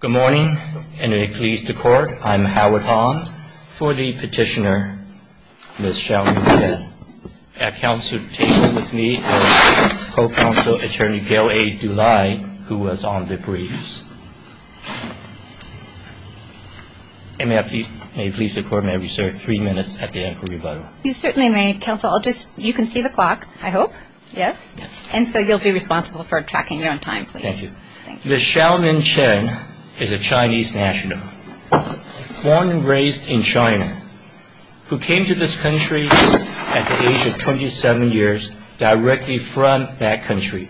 Good morning, and may it please the Court, I'm Howard Hong. For the petitioner, Ms. Xiaomin Chen. At Council table with me is Co-Counsel Attorney Gail A. Dulai, who was on the briefs. And may it please the Court, may I be served three minutes at the end for rebuttal. You certainly may, Counsel. You can see the clock, I hope, yes? And so you'll be responsible for tracking your own time, please. Thank you. Ms. Xiaomin Chen is a Chinese national, born and raised in China, who came to this country at the age of 27 years directly from that country,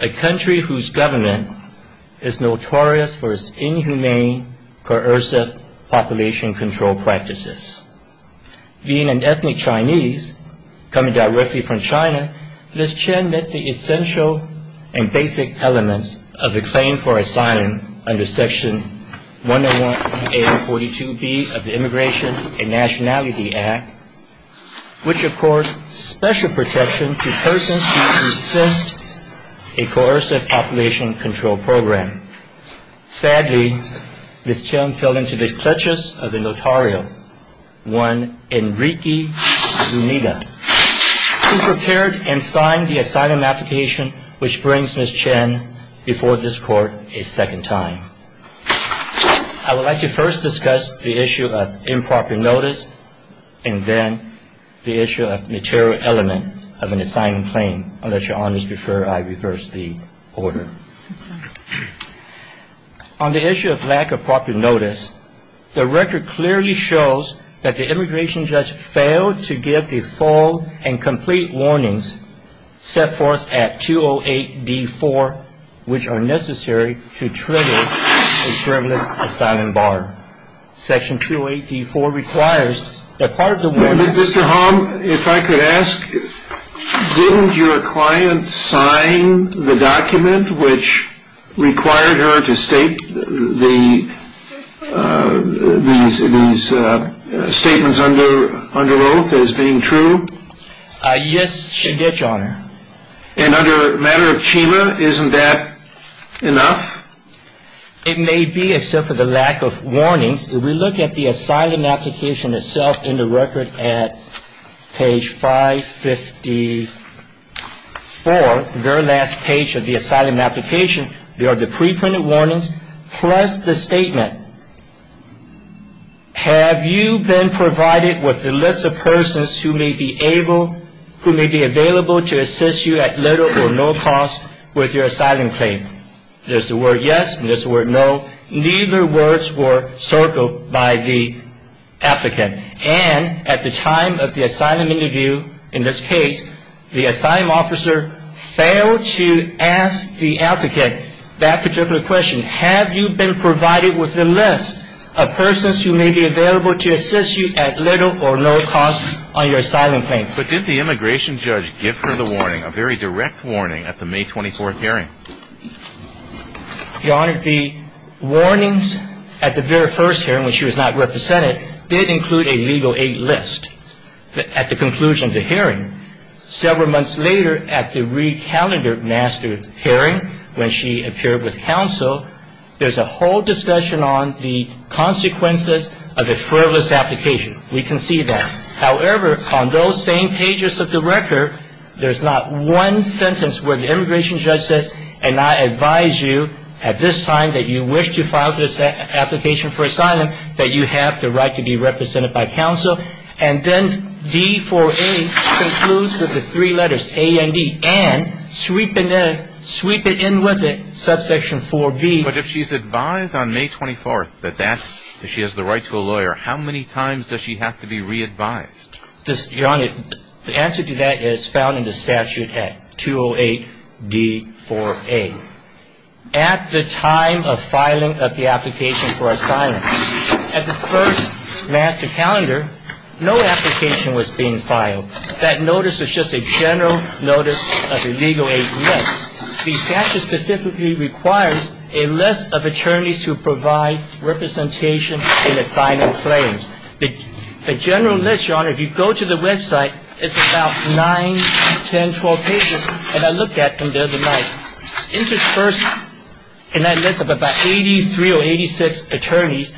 a country whose government is notorious for its inhumane, coercive population control practices. Being an ethnic Chinese coming directly from China, Ms. Chen met the essential and basic elements of the claim for asylum under Section 101A and 42B of the Immigration and Nationality Act, which, of course, special protection to persons who assist a coercive population control program. Sadly, Ms. Chen fell into the clutches of a notarial, one Enrique Zuniga, who prepared and signed the asylum application which brings Ms. Chen before this Court a second time. I would like to first discuss the issue of improper notice and then the issue of the notarial element of an asylum claim. I'll let Your Honors defer, I reversed the order. That's fine. On the issue of lack of proper notice, the record clearly shows that the immigration judge failed to give the full and complete warnings set forth at 208D4, which are necessary to trigger a journalist's asylum bar. Section 208D4 requires that part of the warning... Mr. Hom, if I could ask, didn't your client sign the document which required her to state these statements under oath as being true? Yes, she did, Your Honor. And under a matter of chima, isn't that enough? It may be, except for the lack of warnings. If we look at the asylum application itself in the record at page 554, the very last page of the asylum application, there are the pre-printed warnings plus the statement. Have you been provided with a list of persons who may be able, who may be available to assist you at little or no cost with your asylum claim? There's the word yes and there's the word no. Neither words were circled by the applicant. And at the time of the asylum interview, in this case, the asylum officer failed to ask the applicant that particular question. Have you been provided with a list of persons who may be available to assist you at little or no cost on your asylum claim? But did the immigration judge give her the warning, a very direct warning, at the May 24th hearing? Your Honor, the warnings at the very first hearing, when she was not represented, did include a legal aid list at the conclusion of the hearing. Several months later, at the re-calendar master hearing, when she appeared with counsel, there's a whole discussion on the consequences of a frivolous application. We can see that. However, on those same pages of the record, there's not one sentence where the immigration judge says, and I advise you at this time that you wish to file this application for asylum, that you have the right to be represented by counsel. And then D for A concludes with the three letters, A and D, and sweep it in with it, subsection 4B. But if she's advised on May 24th that she has the right to a lawyer, how many times does she have to be re-advised? Your Honor, the answer to that is found in the statute at 208D4A. At the time of filing of the application for asylum, at the first master calendar, no application was being filed. That notice was just a general notice of a legal aid list. The statute specifically requires a list of attorneys who provide representation in asylum claims. The general list, Your Honor, if you go to the website, it's about 9, 10, 12 pages that I looked at the other night. Interspersed in that list of about 83 or 86 attorneys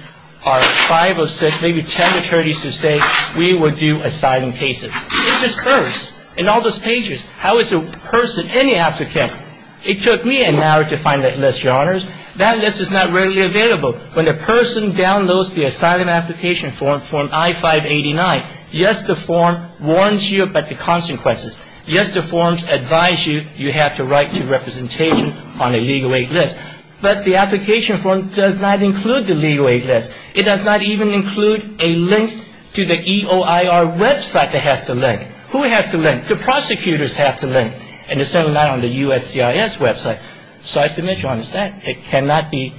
are 5 or 6, maybe 10 attorneys who say we will do asylum cases. Interspersed in all those pages. How is a person, any applicant, it took me an hour to find that list, Your Honor. That list is not readily available. When a person downloads the asylum application form, form I-589, yes, the form warns you about the consequences. Yes, the forms advise you you have the right to representation on a legal aid list. But the application form does not include the legal aid list. It does not even include a link to the EOIR website that has to link. Who has to link? The prosecutors have to link. And it's not on the USCIS website. So I submit, Your Honor, it cannot be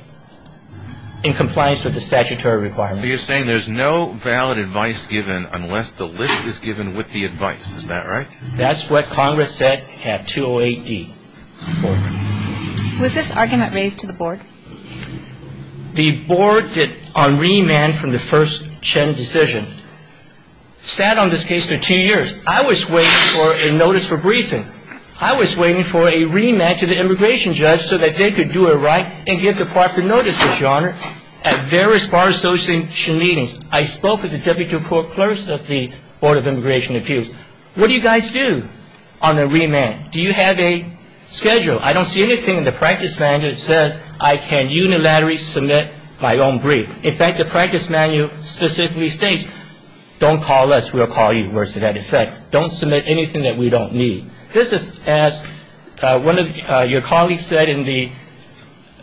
in compliance with the statutory requirements. So you're saying there's no valid advice given unless the list is given with the advice. Is that right? That's what Congress said at 208-D. Was this argument raised to the board? The board on remand from the first Chen decision sat on this case for two years. I was waiting for a notice for briefing. I was waiting for a remand to the immigration judge so that they could do it right and get the proper notice, Your Honor, at various bar association meetings. I spoke with the deputy proclurse of the Board of Immigration Appeals. What do you guys do on the remand? Do you have a schedule? I don't see anything in the practice manual that says I can unilaterally submit my own brief. In fact, the practice manual specifically states don't call us, we'll call you. And it says, of course, to that effect, don't submit anything that we don't need. This is as one of your colleagues said in the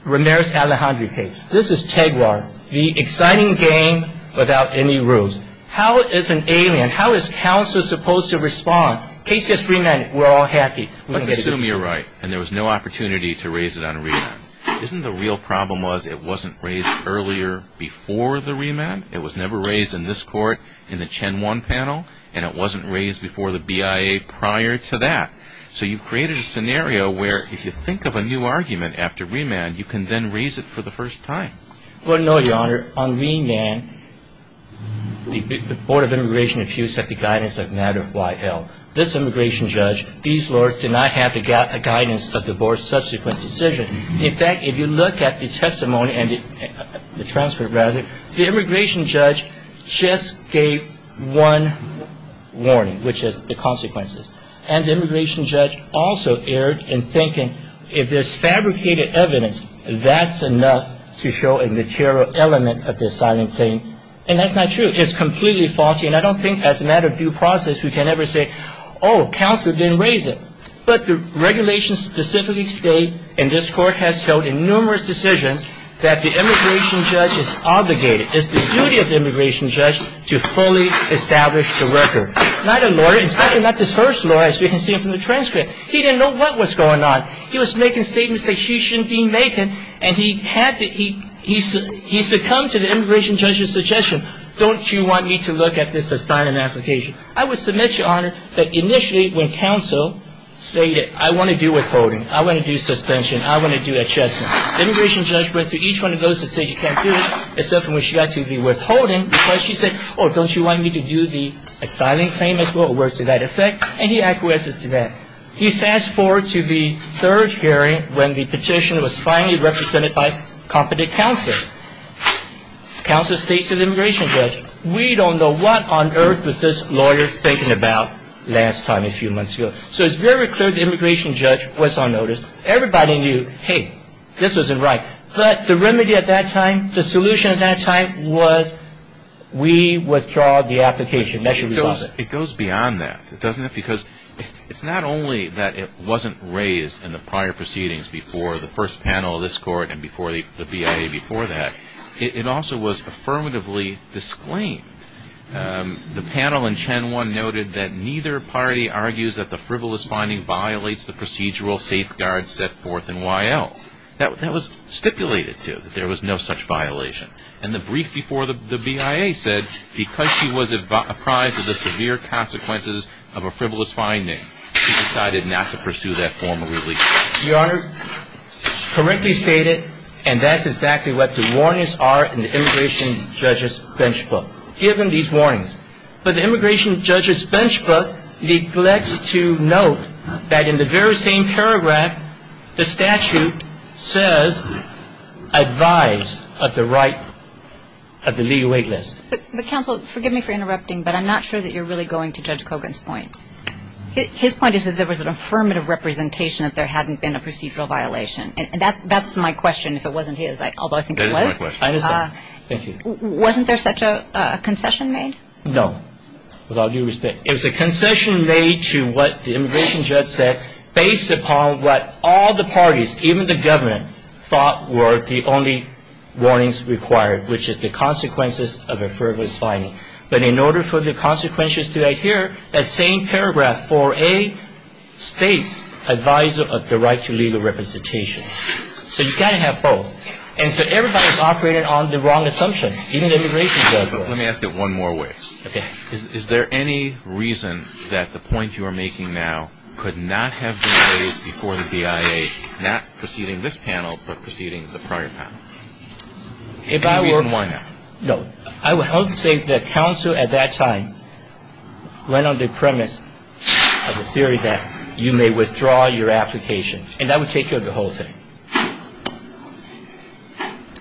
Ramirez-Alejandro case. This is TEGWAR, the exciting game without any rules. How is an alien, how is counsel supposed to respond? Case gets remanded, we're all happy. Let's assume you're right and there was no opportunity to raise it on remand. Isn't the real problem was it wasn't raised earlier before the remand? It was never raised in this court, in the Chen Won panel, and it wasn't raised before the BIA prior to that. So you've created a scenario where if you think of a new argument after remand, you can then raise it for the first time. Well, no, Your Honor. On remand, the Board of Immigration Appeals had the guidance of matter of YL. This immigration judge, these lawyers did not have the guidance of the Board's subsequent decision. In fact, if you look at the testimony and the transfer, rather, the immigration judge just gave one warning, which is the consequences, and the immigration judge also erred in thinking if there's fabricated evidence, that's enough to show a material element of the asylum claim, and that's not true. It's completely faulty, and I don't think as a matter of due process we can ever say, oh, counsel didn't raise it. But the regulations specifically state, and this court has held in numerous decisions, that the immigration judge is obligated, it's the duty of the immigration judge to fully establish the record. Not a lawyer, especially not this first lawyer, as we can see from the transcript. He didn't know what was going on. He was making statements that he shouldn't be making, and he succumbed to the immigration judge's suggestion. Don't you want me to look at this asylum application? I would submit, Your Honor, that initially when counsel stated, I want to do withholding. I want to do suspension. I want to do adjustment. The immigration judge went through each one of those and said you can't do it, except for when she got to the withholding, because she said, oh, don't you want me to do the asylum claim as well? It works to that effect, and he acquiesces to that. You fast forward to the third hearing when the petition was finally represented by competent counsel. Counsel states to the immigration judge, we don't know what on earth was this lawyer thinking about last time a few months ago. So it's very clear the immigration judge was unnoticed. Everybody knew, hey, this wasn't right. But the remedy at that time, the solution at that time was we withdraw the application. That should resolve it. It goes beyond that, doesn't it? Because it's not only that it wasn't raised in the prior proceedings before the first panel of this Court and before the BIA before that, it also was affirmatively disclaimed. The panel in Chen 1 noted that neither party argues that the frivolous finding violates the procedural safeguards set forth in YL. That was stipulated, too, that there was no such violation. And the brief before the BIA said because she was apprised of the severe consequences of a frivolous finding, she decided not to pursue that formal release. Your Honor, correctly stated, and that's exactly what the warnings are in the immigration judge's bench book, given these warnings. But the immigration judge's bench book neglects to note that in the very same paragraph, the statute says advise of the right of the legal wait list. But counsel, forgive me for interrupting, but I'm not sure that you're really going to Judge Kogan's point. His point is that there was an affirmative representation that there hadn't been a procedural violation. And that's my question, if it wasn't his, although I think it was. That is my question. Thank you. Wasn't there such a concession made? No, with all due respect. It was a concession made to what the immigration judge said based upon what all the parties, even the government, thought were the only warnings required, which is the consequences of a frivolous finding. But in order for the consequences to adhere, that same paragraph, 4A states advise of the right to legal representation. So you've got to have both. And so everybody's operating on the wrong assumption, even the immigration judge. Let me ask it one more way. Okay. Is there any reason that the point you are making now could not have been made before the BIA, not preceding this panel, but preceding the prior panel? If I were to. Any reason why not? No. I would say the counsel at that time went on the premise of the theory that you may withdraw your application. And that would take care of the whole thing.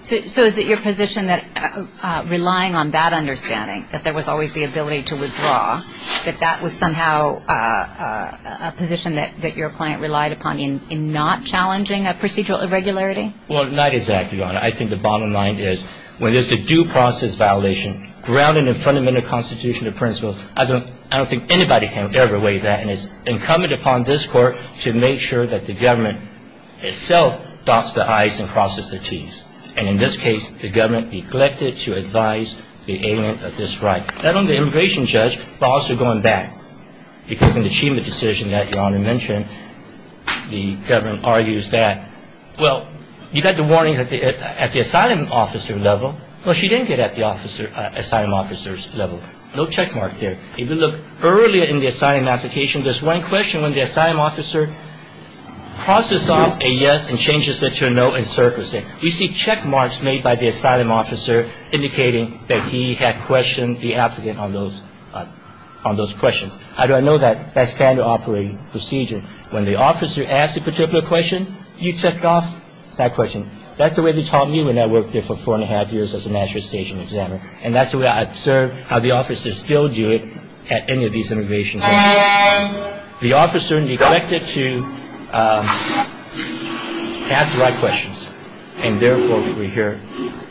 So is it your position that relying on that understanding, that there was always the ability to withdraw, that that was somehow a position that your client relied upon in not challenging a procedural irregularity? Well, not exactly, Your Honor. I think the bottom line is when there's a due process violation grounded in fundamental constitutional principles, I don't think anybody can ever weigh that. And it's incumbent upon this Court to make sure that the government itself dots the I's and crosses the T's. And in this case, the government neglected to advise the ailment of this right, not only the immigration judge, but also going back, because in the achievement decision that Your Honor mentioned, the government argues that, well, you got the warnings at the asylum officer level. Well, she didn't get at the asylum officer's level. No checkmark there. If you look earlier in the asylum application, there's one question when the asylum officer crosses off a yes and changes it to a no and circles it. You see checkmarks made by the asylum officer indicating that he had questioned the applicant on those questions. How do I know that's standard operating procedure? When the officer asks a particular question, you check off that question. That's the way they taught me when I worked there for four and a half years as a national station examiner. And that's the way I observed how the officers still do it at any of these immigration hearings. The officer neglected to ask the right questions, and therefore, we hear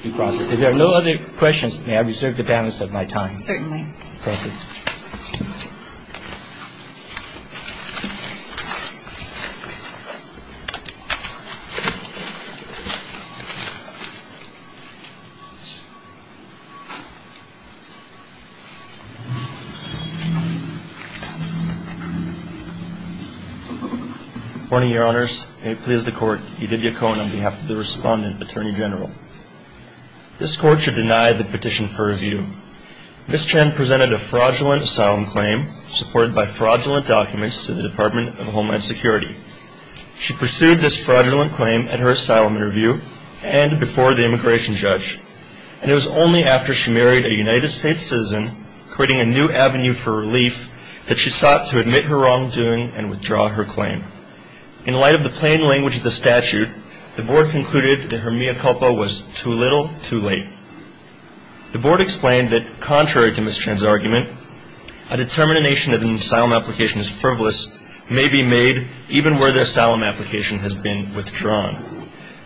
due process. If there are no other questions, may I reserve the balance of my time? Certainly. Thank you. Thank you. Good morning, Your Honors. May it please the Court, Edith Yacon on behalf of the Respondent, Attorney General. This Court should deny the petition for review. Ms. Chen presented a fraudulent asylum claim supported by fraudulent documents to the Department of Homeland Security. She pursued this fraudulent claim at her asylum interview and before the immigration judge. And it was only after she married a United States citizen, creating a new avenue for relief, that she sought to admit her wrongdoing and withdraw her claim. In light of the plain language of the statute, the Board concluded that her mea culpa was too little, too late. The Board explained that contrary to Ms. Chen's argument, a determination that an asylum application is frivolous may be made even where the asylum application has been withdrawn.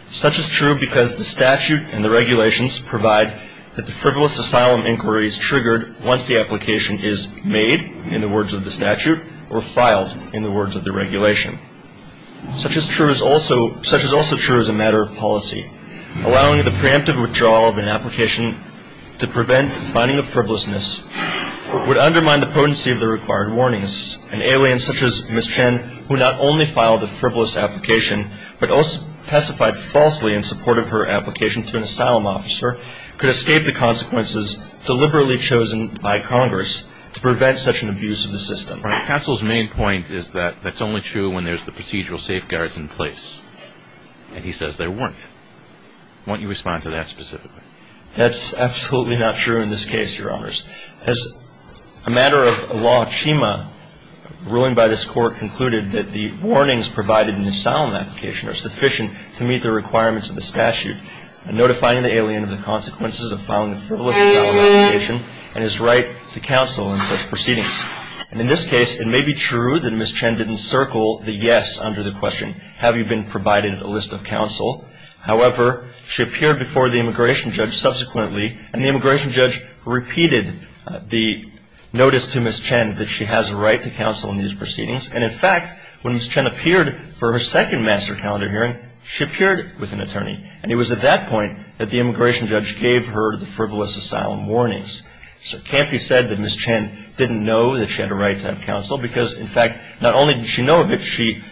Such is true because the statute and the regulations provide that the frivolous asylum inquiry is triggered once the application is made, in the words of the statute, or filed, in the words of the regulation. Such is also true as a matter of policy. Allowing the preemptive withdrawal of an application to prevent the finding of frivolousness would undermine the potency of the required warnings. An alien such as Ms. Chen, who not only filed a frivolous application, but also testified falsely in support of her application to an asylum officer, could escape the consequences deliberately chosen by Congress to prevent such an abuse of the system. Counsel's main point is that that's only true when there's the procedural safeguards in place. And he says there weren't. Why don't you respond to that specifically? That's absolutely not true in this case, Your Honors. As a matter of law, Chima, ruling by this Court, concluded that the warnings provided in the asylum application are sufficient to meet the requirements of the statute, notifying the alien of the consequences of filing a frivolous asylum application and his right to counsel in such proceedings. And in this case, it may be true that Ms. Chen didn't circle the yes under the question, have you been provided a list of counsel? However, she appeared before the immigration judge subsequently, and the immigration judge repeated the notice to Ms. Chen that she has a right to counsel in these proceedings. And, in fact, when Ms. Chen appeared for her second master calendar hearing, she appeared with an attorney. And it was at that point that the immigration judge gave her the frivolous asylum warnings. So it can't be said that Ms. Chen didn't know that she had a right to have counsel, because, in fact, not only did she know of it, she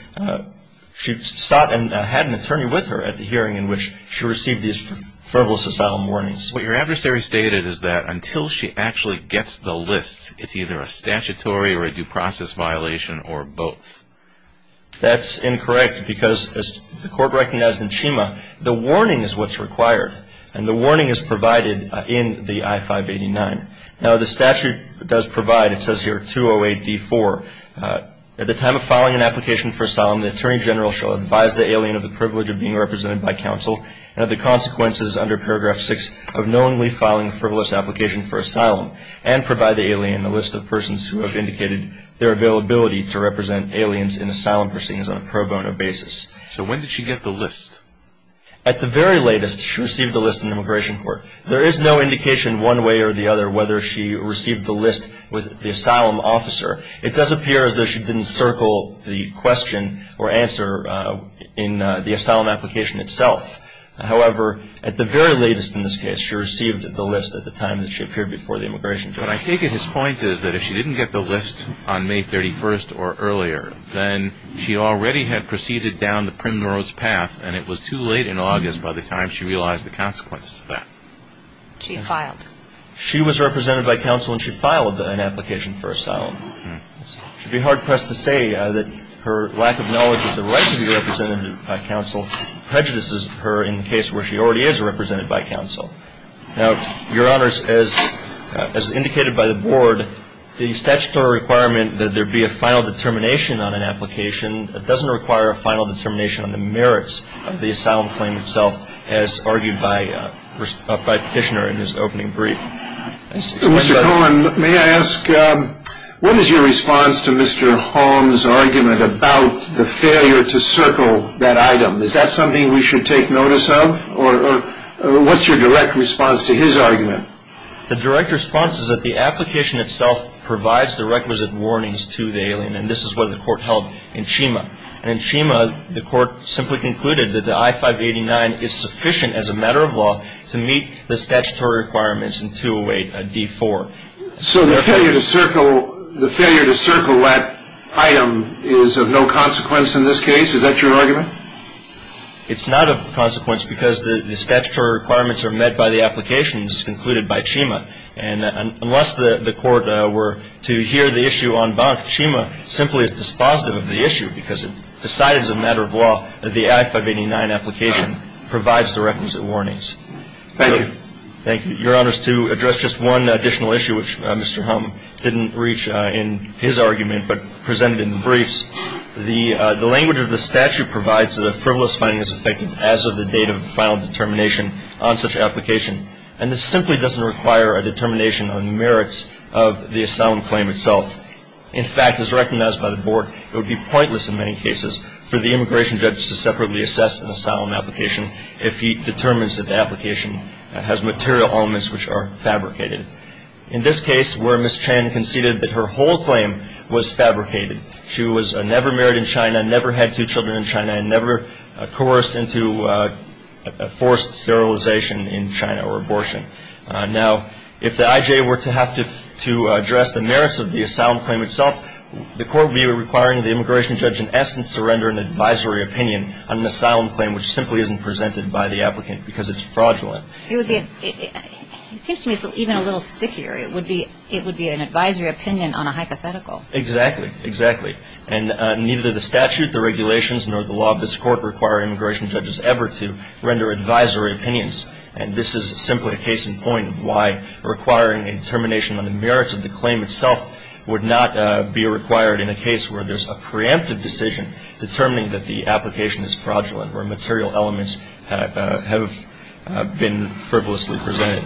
sought and had an attorney with her at the hearing in which she received these frivolous asylum warnings. What your adversary stated is that until she actually gets the list, it's either a statutory or a due process violation or both. That's incorrect, because as the Court recognized in Chima, the warning is what's required. And the warning is provided in the I-589. Now, the statute does provide, it says here, 208D-4. At the time of filing an application for asylum, the attorney general shall advise the alien of the privilege of being represented by counsel and of the consequences under paragraph 6 of knowingly filing a frivolous application for asylum and provide the alien a list of persons who have indicated their availability to represent aliens in asylum proceedings on a pro bono basis. So when did she get the list? At the very latest, she received the list in immigration court. There is no indication one way or the other whether she received the list with the asylum officer. It does appear as though she didn't circle the question or answer in the asylum application itself. However, at the very latest in this case, she received the list at the time that she appeared before the immigration court. But I take it his point is that if she didn't get the list on May 31st or earlier, then she already had proceeded down the primrose path and it was too late in August by the time she realized the consequences of that. She filed. She was represented by counsel and she filed an application for asylum. It would be hard-pressed to say that her lack of knowledge of the right to be represented by counsel prejudices her in the case where she already is represented by counsel. Now, Your Honors, as indicated by the Board, the statutory requirement that there be a final determination on an application doesn't require a final determination on the merits of the asylum claim itself, as argued by Kishner in his opening brief. Mr. Cohen, may I ask, what is your response to Mr. Holmes' argument about the failure to circle that item? Is that something we should take notice of? Or what's your direct response to his argument? The direct response is that the application itself provides the requisite warnings to the alien, and this is what the court held in Chima. In Chima, the court simply concluded that the I-589 is sufficient as a matter of law to meet the statutory requirements in 208 D-4. So the failure to circle that item is of no consequence in this case? Is that your argument? It's not of consequence because the statutory requirements are met by the application. It's concluded by Chima. And unless the court were to hear the issue en banc, Chima simply is dispositive of the issue because it decided as a matter of law that the I-589 application provides the requisite warnings. Thank you. Thank you. Your Honors, to address just one additional issue, which Mr. Holmes didn't reach in his argument but presented in the briefs, the language of the statute provides that a frivolous finding is effective as of the date of final determination on such application. And this simply doesn't require a determination on the merits of the asylum claim itself. In fact, as recognized by the Board, it would be pointless in many cases for the immigration judge to separately assess an asylum application if he determines that the application has material elements which are fabricated. In this case, where Ms. Chen conceded that her whole claim was fabricated, and never coerced into forced sterilization in China or abortion. Now, if the IJ were to have to address the merits of the asylum claim itself, the court would be requiring the immigration judge in essence to render an advisory opinion on an asylum claim which simply isn't presented by the applicant because it's fraudulent. It seems to me it's even a little stickier. It would be an advisory opinion on a hypothetical. Exactly. Exactly. And neither the statute, the regulations, nor the law of this Court require immigration judges ever to render advisory opinions. And this is simply a case in point of why requiring a determination on the merits of the claim itself would not be required in a case where there's a preemptive decision determining that the application is fraudulent or material elements have been frivolously presented.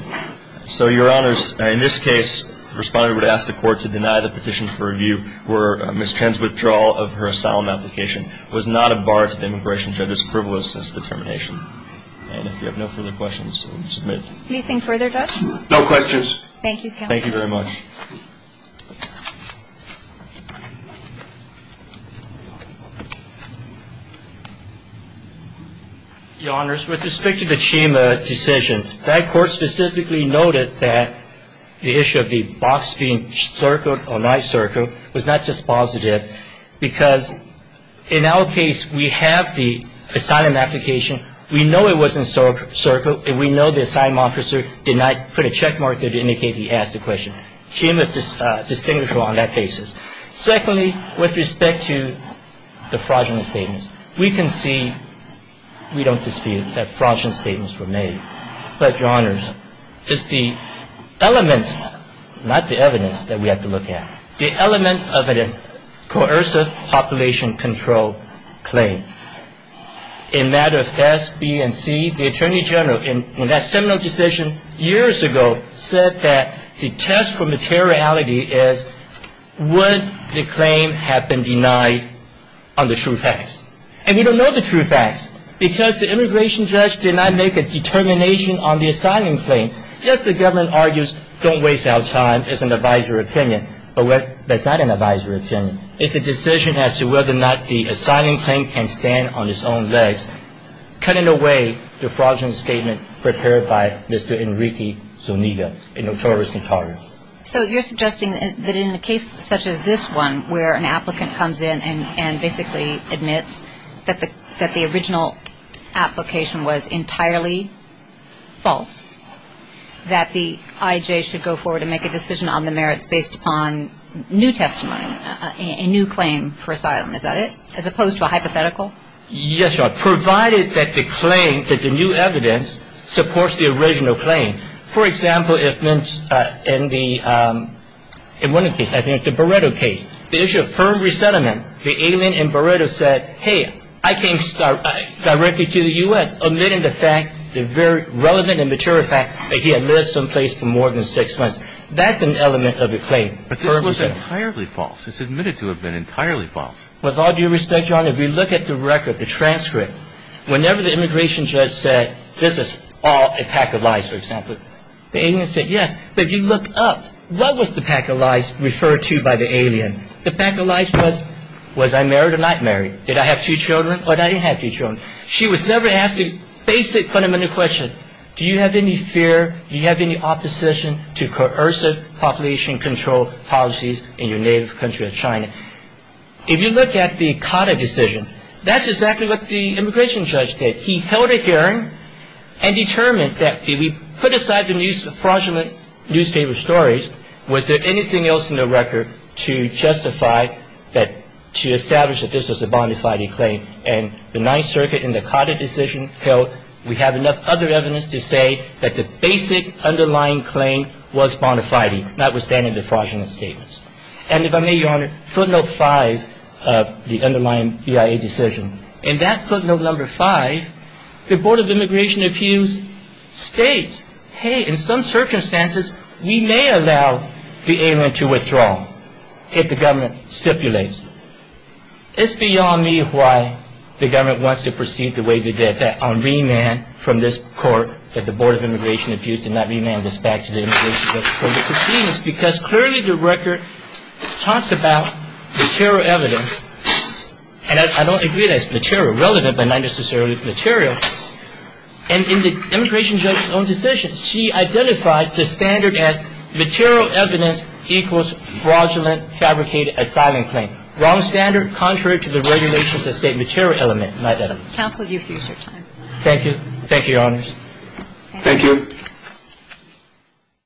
So, Your Honors, in this case, the respondent would ask the Court to deny the petition for review where Ms. Chen's withdrawal of her asylum application was not a bar to the immigration judge's frivolousness determination. And if you have no further questions, we'll submit. Anything further, Judge? No questions. Thank you, counsel. Thank you very much. Your Honors, with respect to the Chima decision, that Court specifically noted that the issue of the box being circled or not circled was not just positive because, in our case, we have the asylum application. We know it wasn't circled, and we know the asylum officer did not put a checkmark there to indicate he asked a question. Chima is distinguishable on that basis. Secondly, with respect to the fraudulent statements, we can see we don't dispute that fraudulent statements were made. But, Your Honors, it's the elements, not the evidence that we have to look at, the element of a coercive population control claim. In that of S, B, and C, the Attorney General, in that seminal decision years ago, said that the test for materiality is would the claim have been denied on the true facts. And we don't know the true facts because the immigration judge did not make a determination on the asylum claim. Yes, the government argues don't waste our time. It's an advisory opinion. But that's not an advisory opinion. It's a decision as to whether or not the asylum claim can stand on its own legs, cutting away the fraudulent statement prepared by Mr. Enrique Zuniga, a notorious notorious. So you're suggesting that in a case such as this one, where an applicant comes in and basically admits that the original application was entirely false, that the IJ should go forward and make a decision on the merits based upon new testimony, a new claim for asylum, is that it? As opposed to a hypothetical? Yes, Your Honor, provided that the claim, that the new evidence, supports the original claim. For example, in the Barreto case, the issue of firm resettlement, the alien in Barreto said, hey, I came directly to the U.S. admitting the fact, the very relevant and mature fact, that he had lived someplace for more than six months. That's an element of the claim. But this was entirely false. It's admitted to have been entirely false. With all due respect, Your Honor, if we look at the record, the transcript, whenever the immigration judge said, this is all a pack of lies, for example, the alien said, yes. But if you look up, what was the pack of lies referred to by the alien? The pack of lies was, was I married or not married? Did I have two children or did I not have two children? She was never asked a basic fundamental question. Do you have any fear, do you have any opposition to coercive population control policies in your native country of China? If you look at the COTA decision, that's exactly what the immigration judge did. He held a hearing and determined that if we put aside the fraudulent newspaper stories, was there anything else in the record to justify that, to establish that this was a bona fide claim? And the Ninth Circuit in the COTA decision held we have enough other evidence to say that the basic underlying claim was bona fide, notwithstanding the fraudulent statements. And if I may, Your Honor, footnote five of the underlying BIA decision. In that footnote number five, the Board of Immigration Abuse states, hey, in some circumstances, we may allow the alien to withdraw if the government stipulates. It's beyond me why the government wants to proceed the way they did, that on remand from this court that the Board of Immigration Abuse did not remand this back to the immigration judge. The reason I'm saying that is because clearly the record talks about material evidence. And I don't agree that it's material, relevant, but not necessarily material. And in the immigration judge's own decision, she identifies the standard as material evidence equals fraudulent fabricated asylum claim. Wrong standard, contrary to the regulations that state material element. Counsel, you've used your time. Thank you. Thank you, Your Honors. Thank you. Thank you.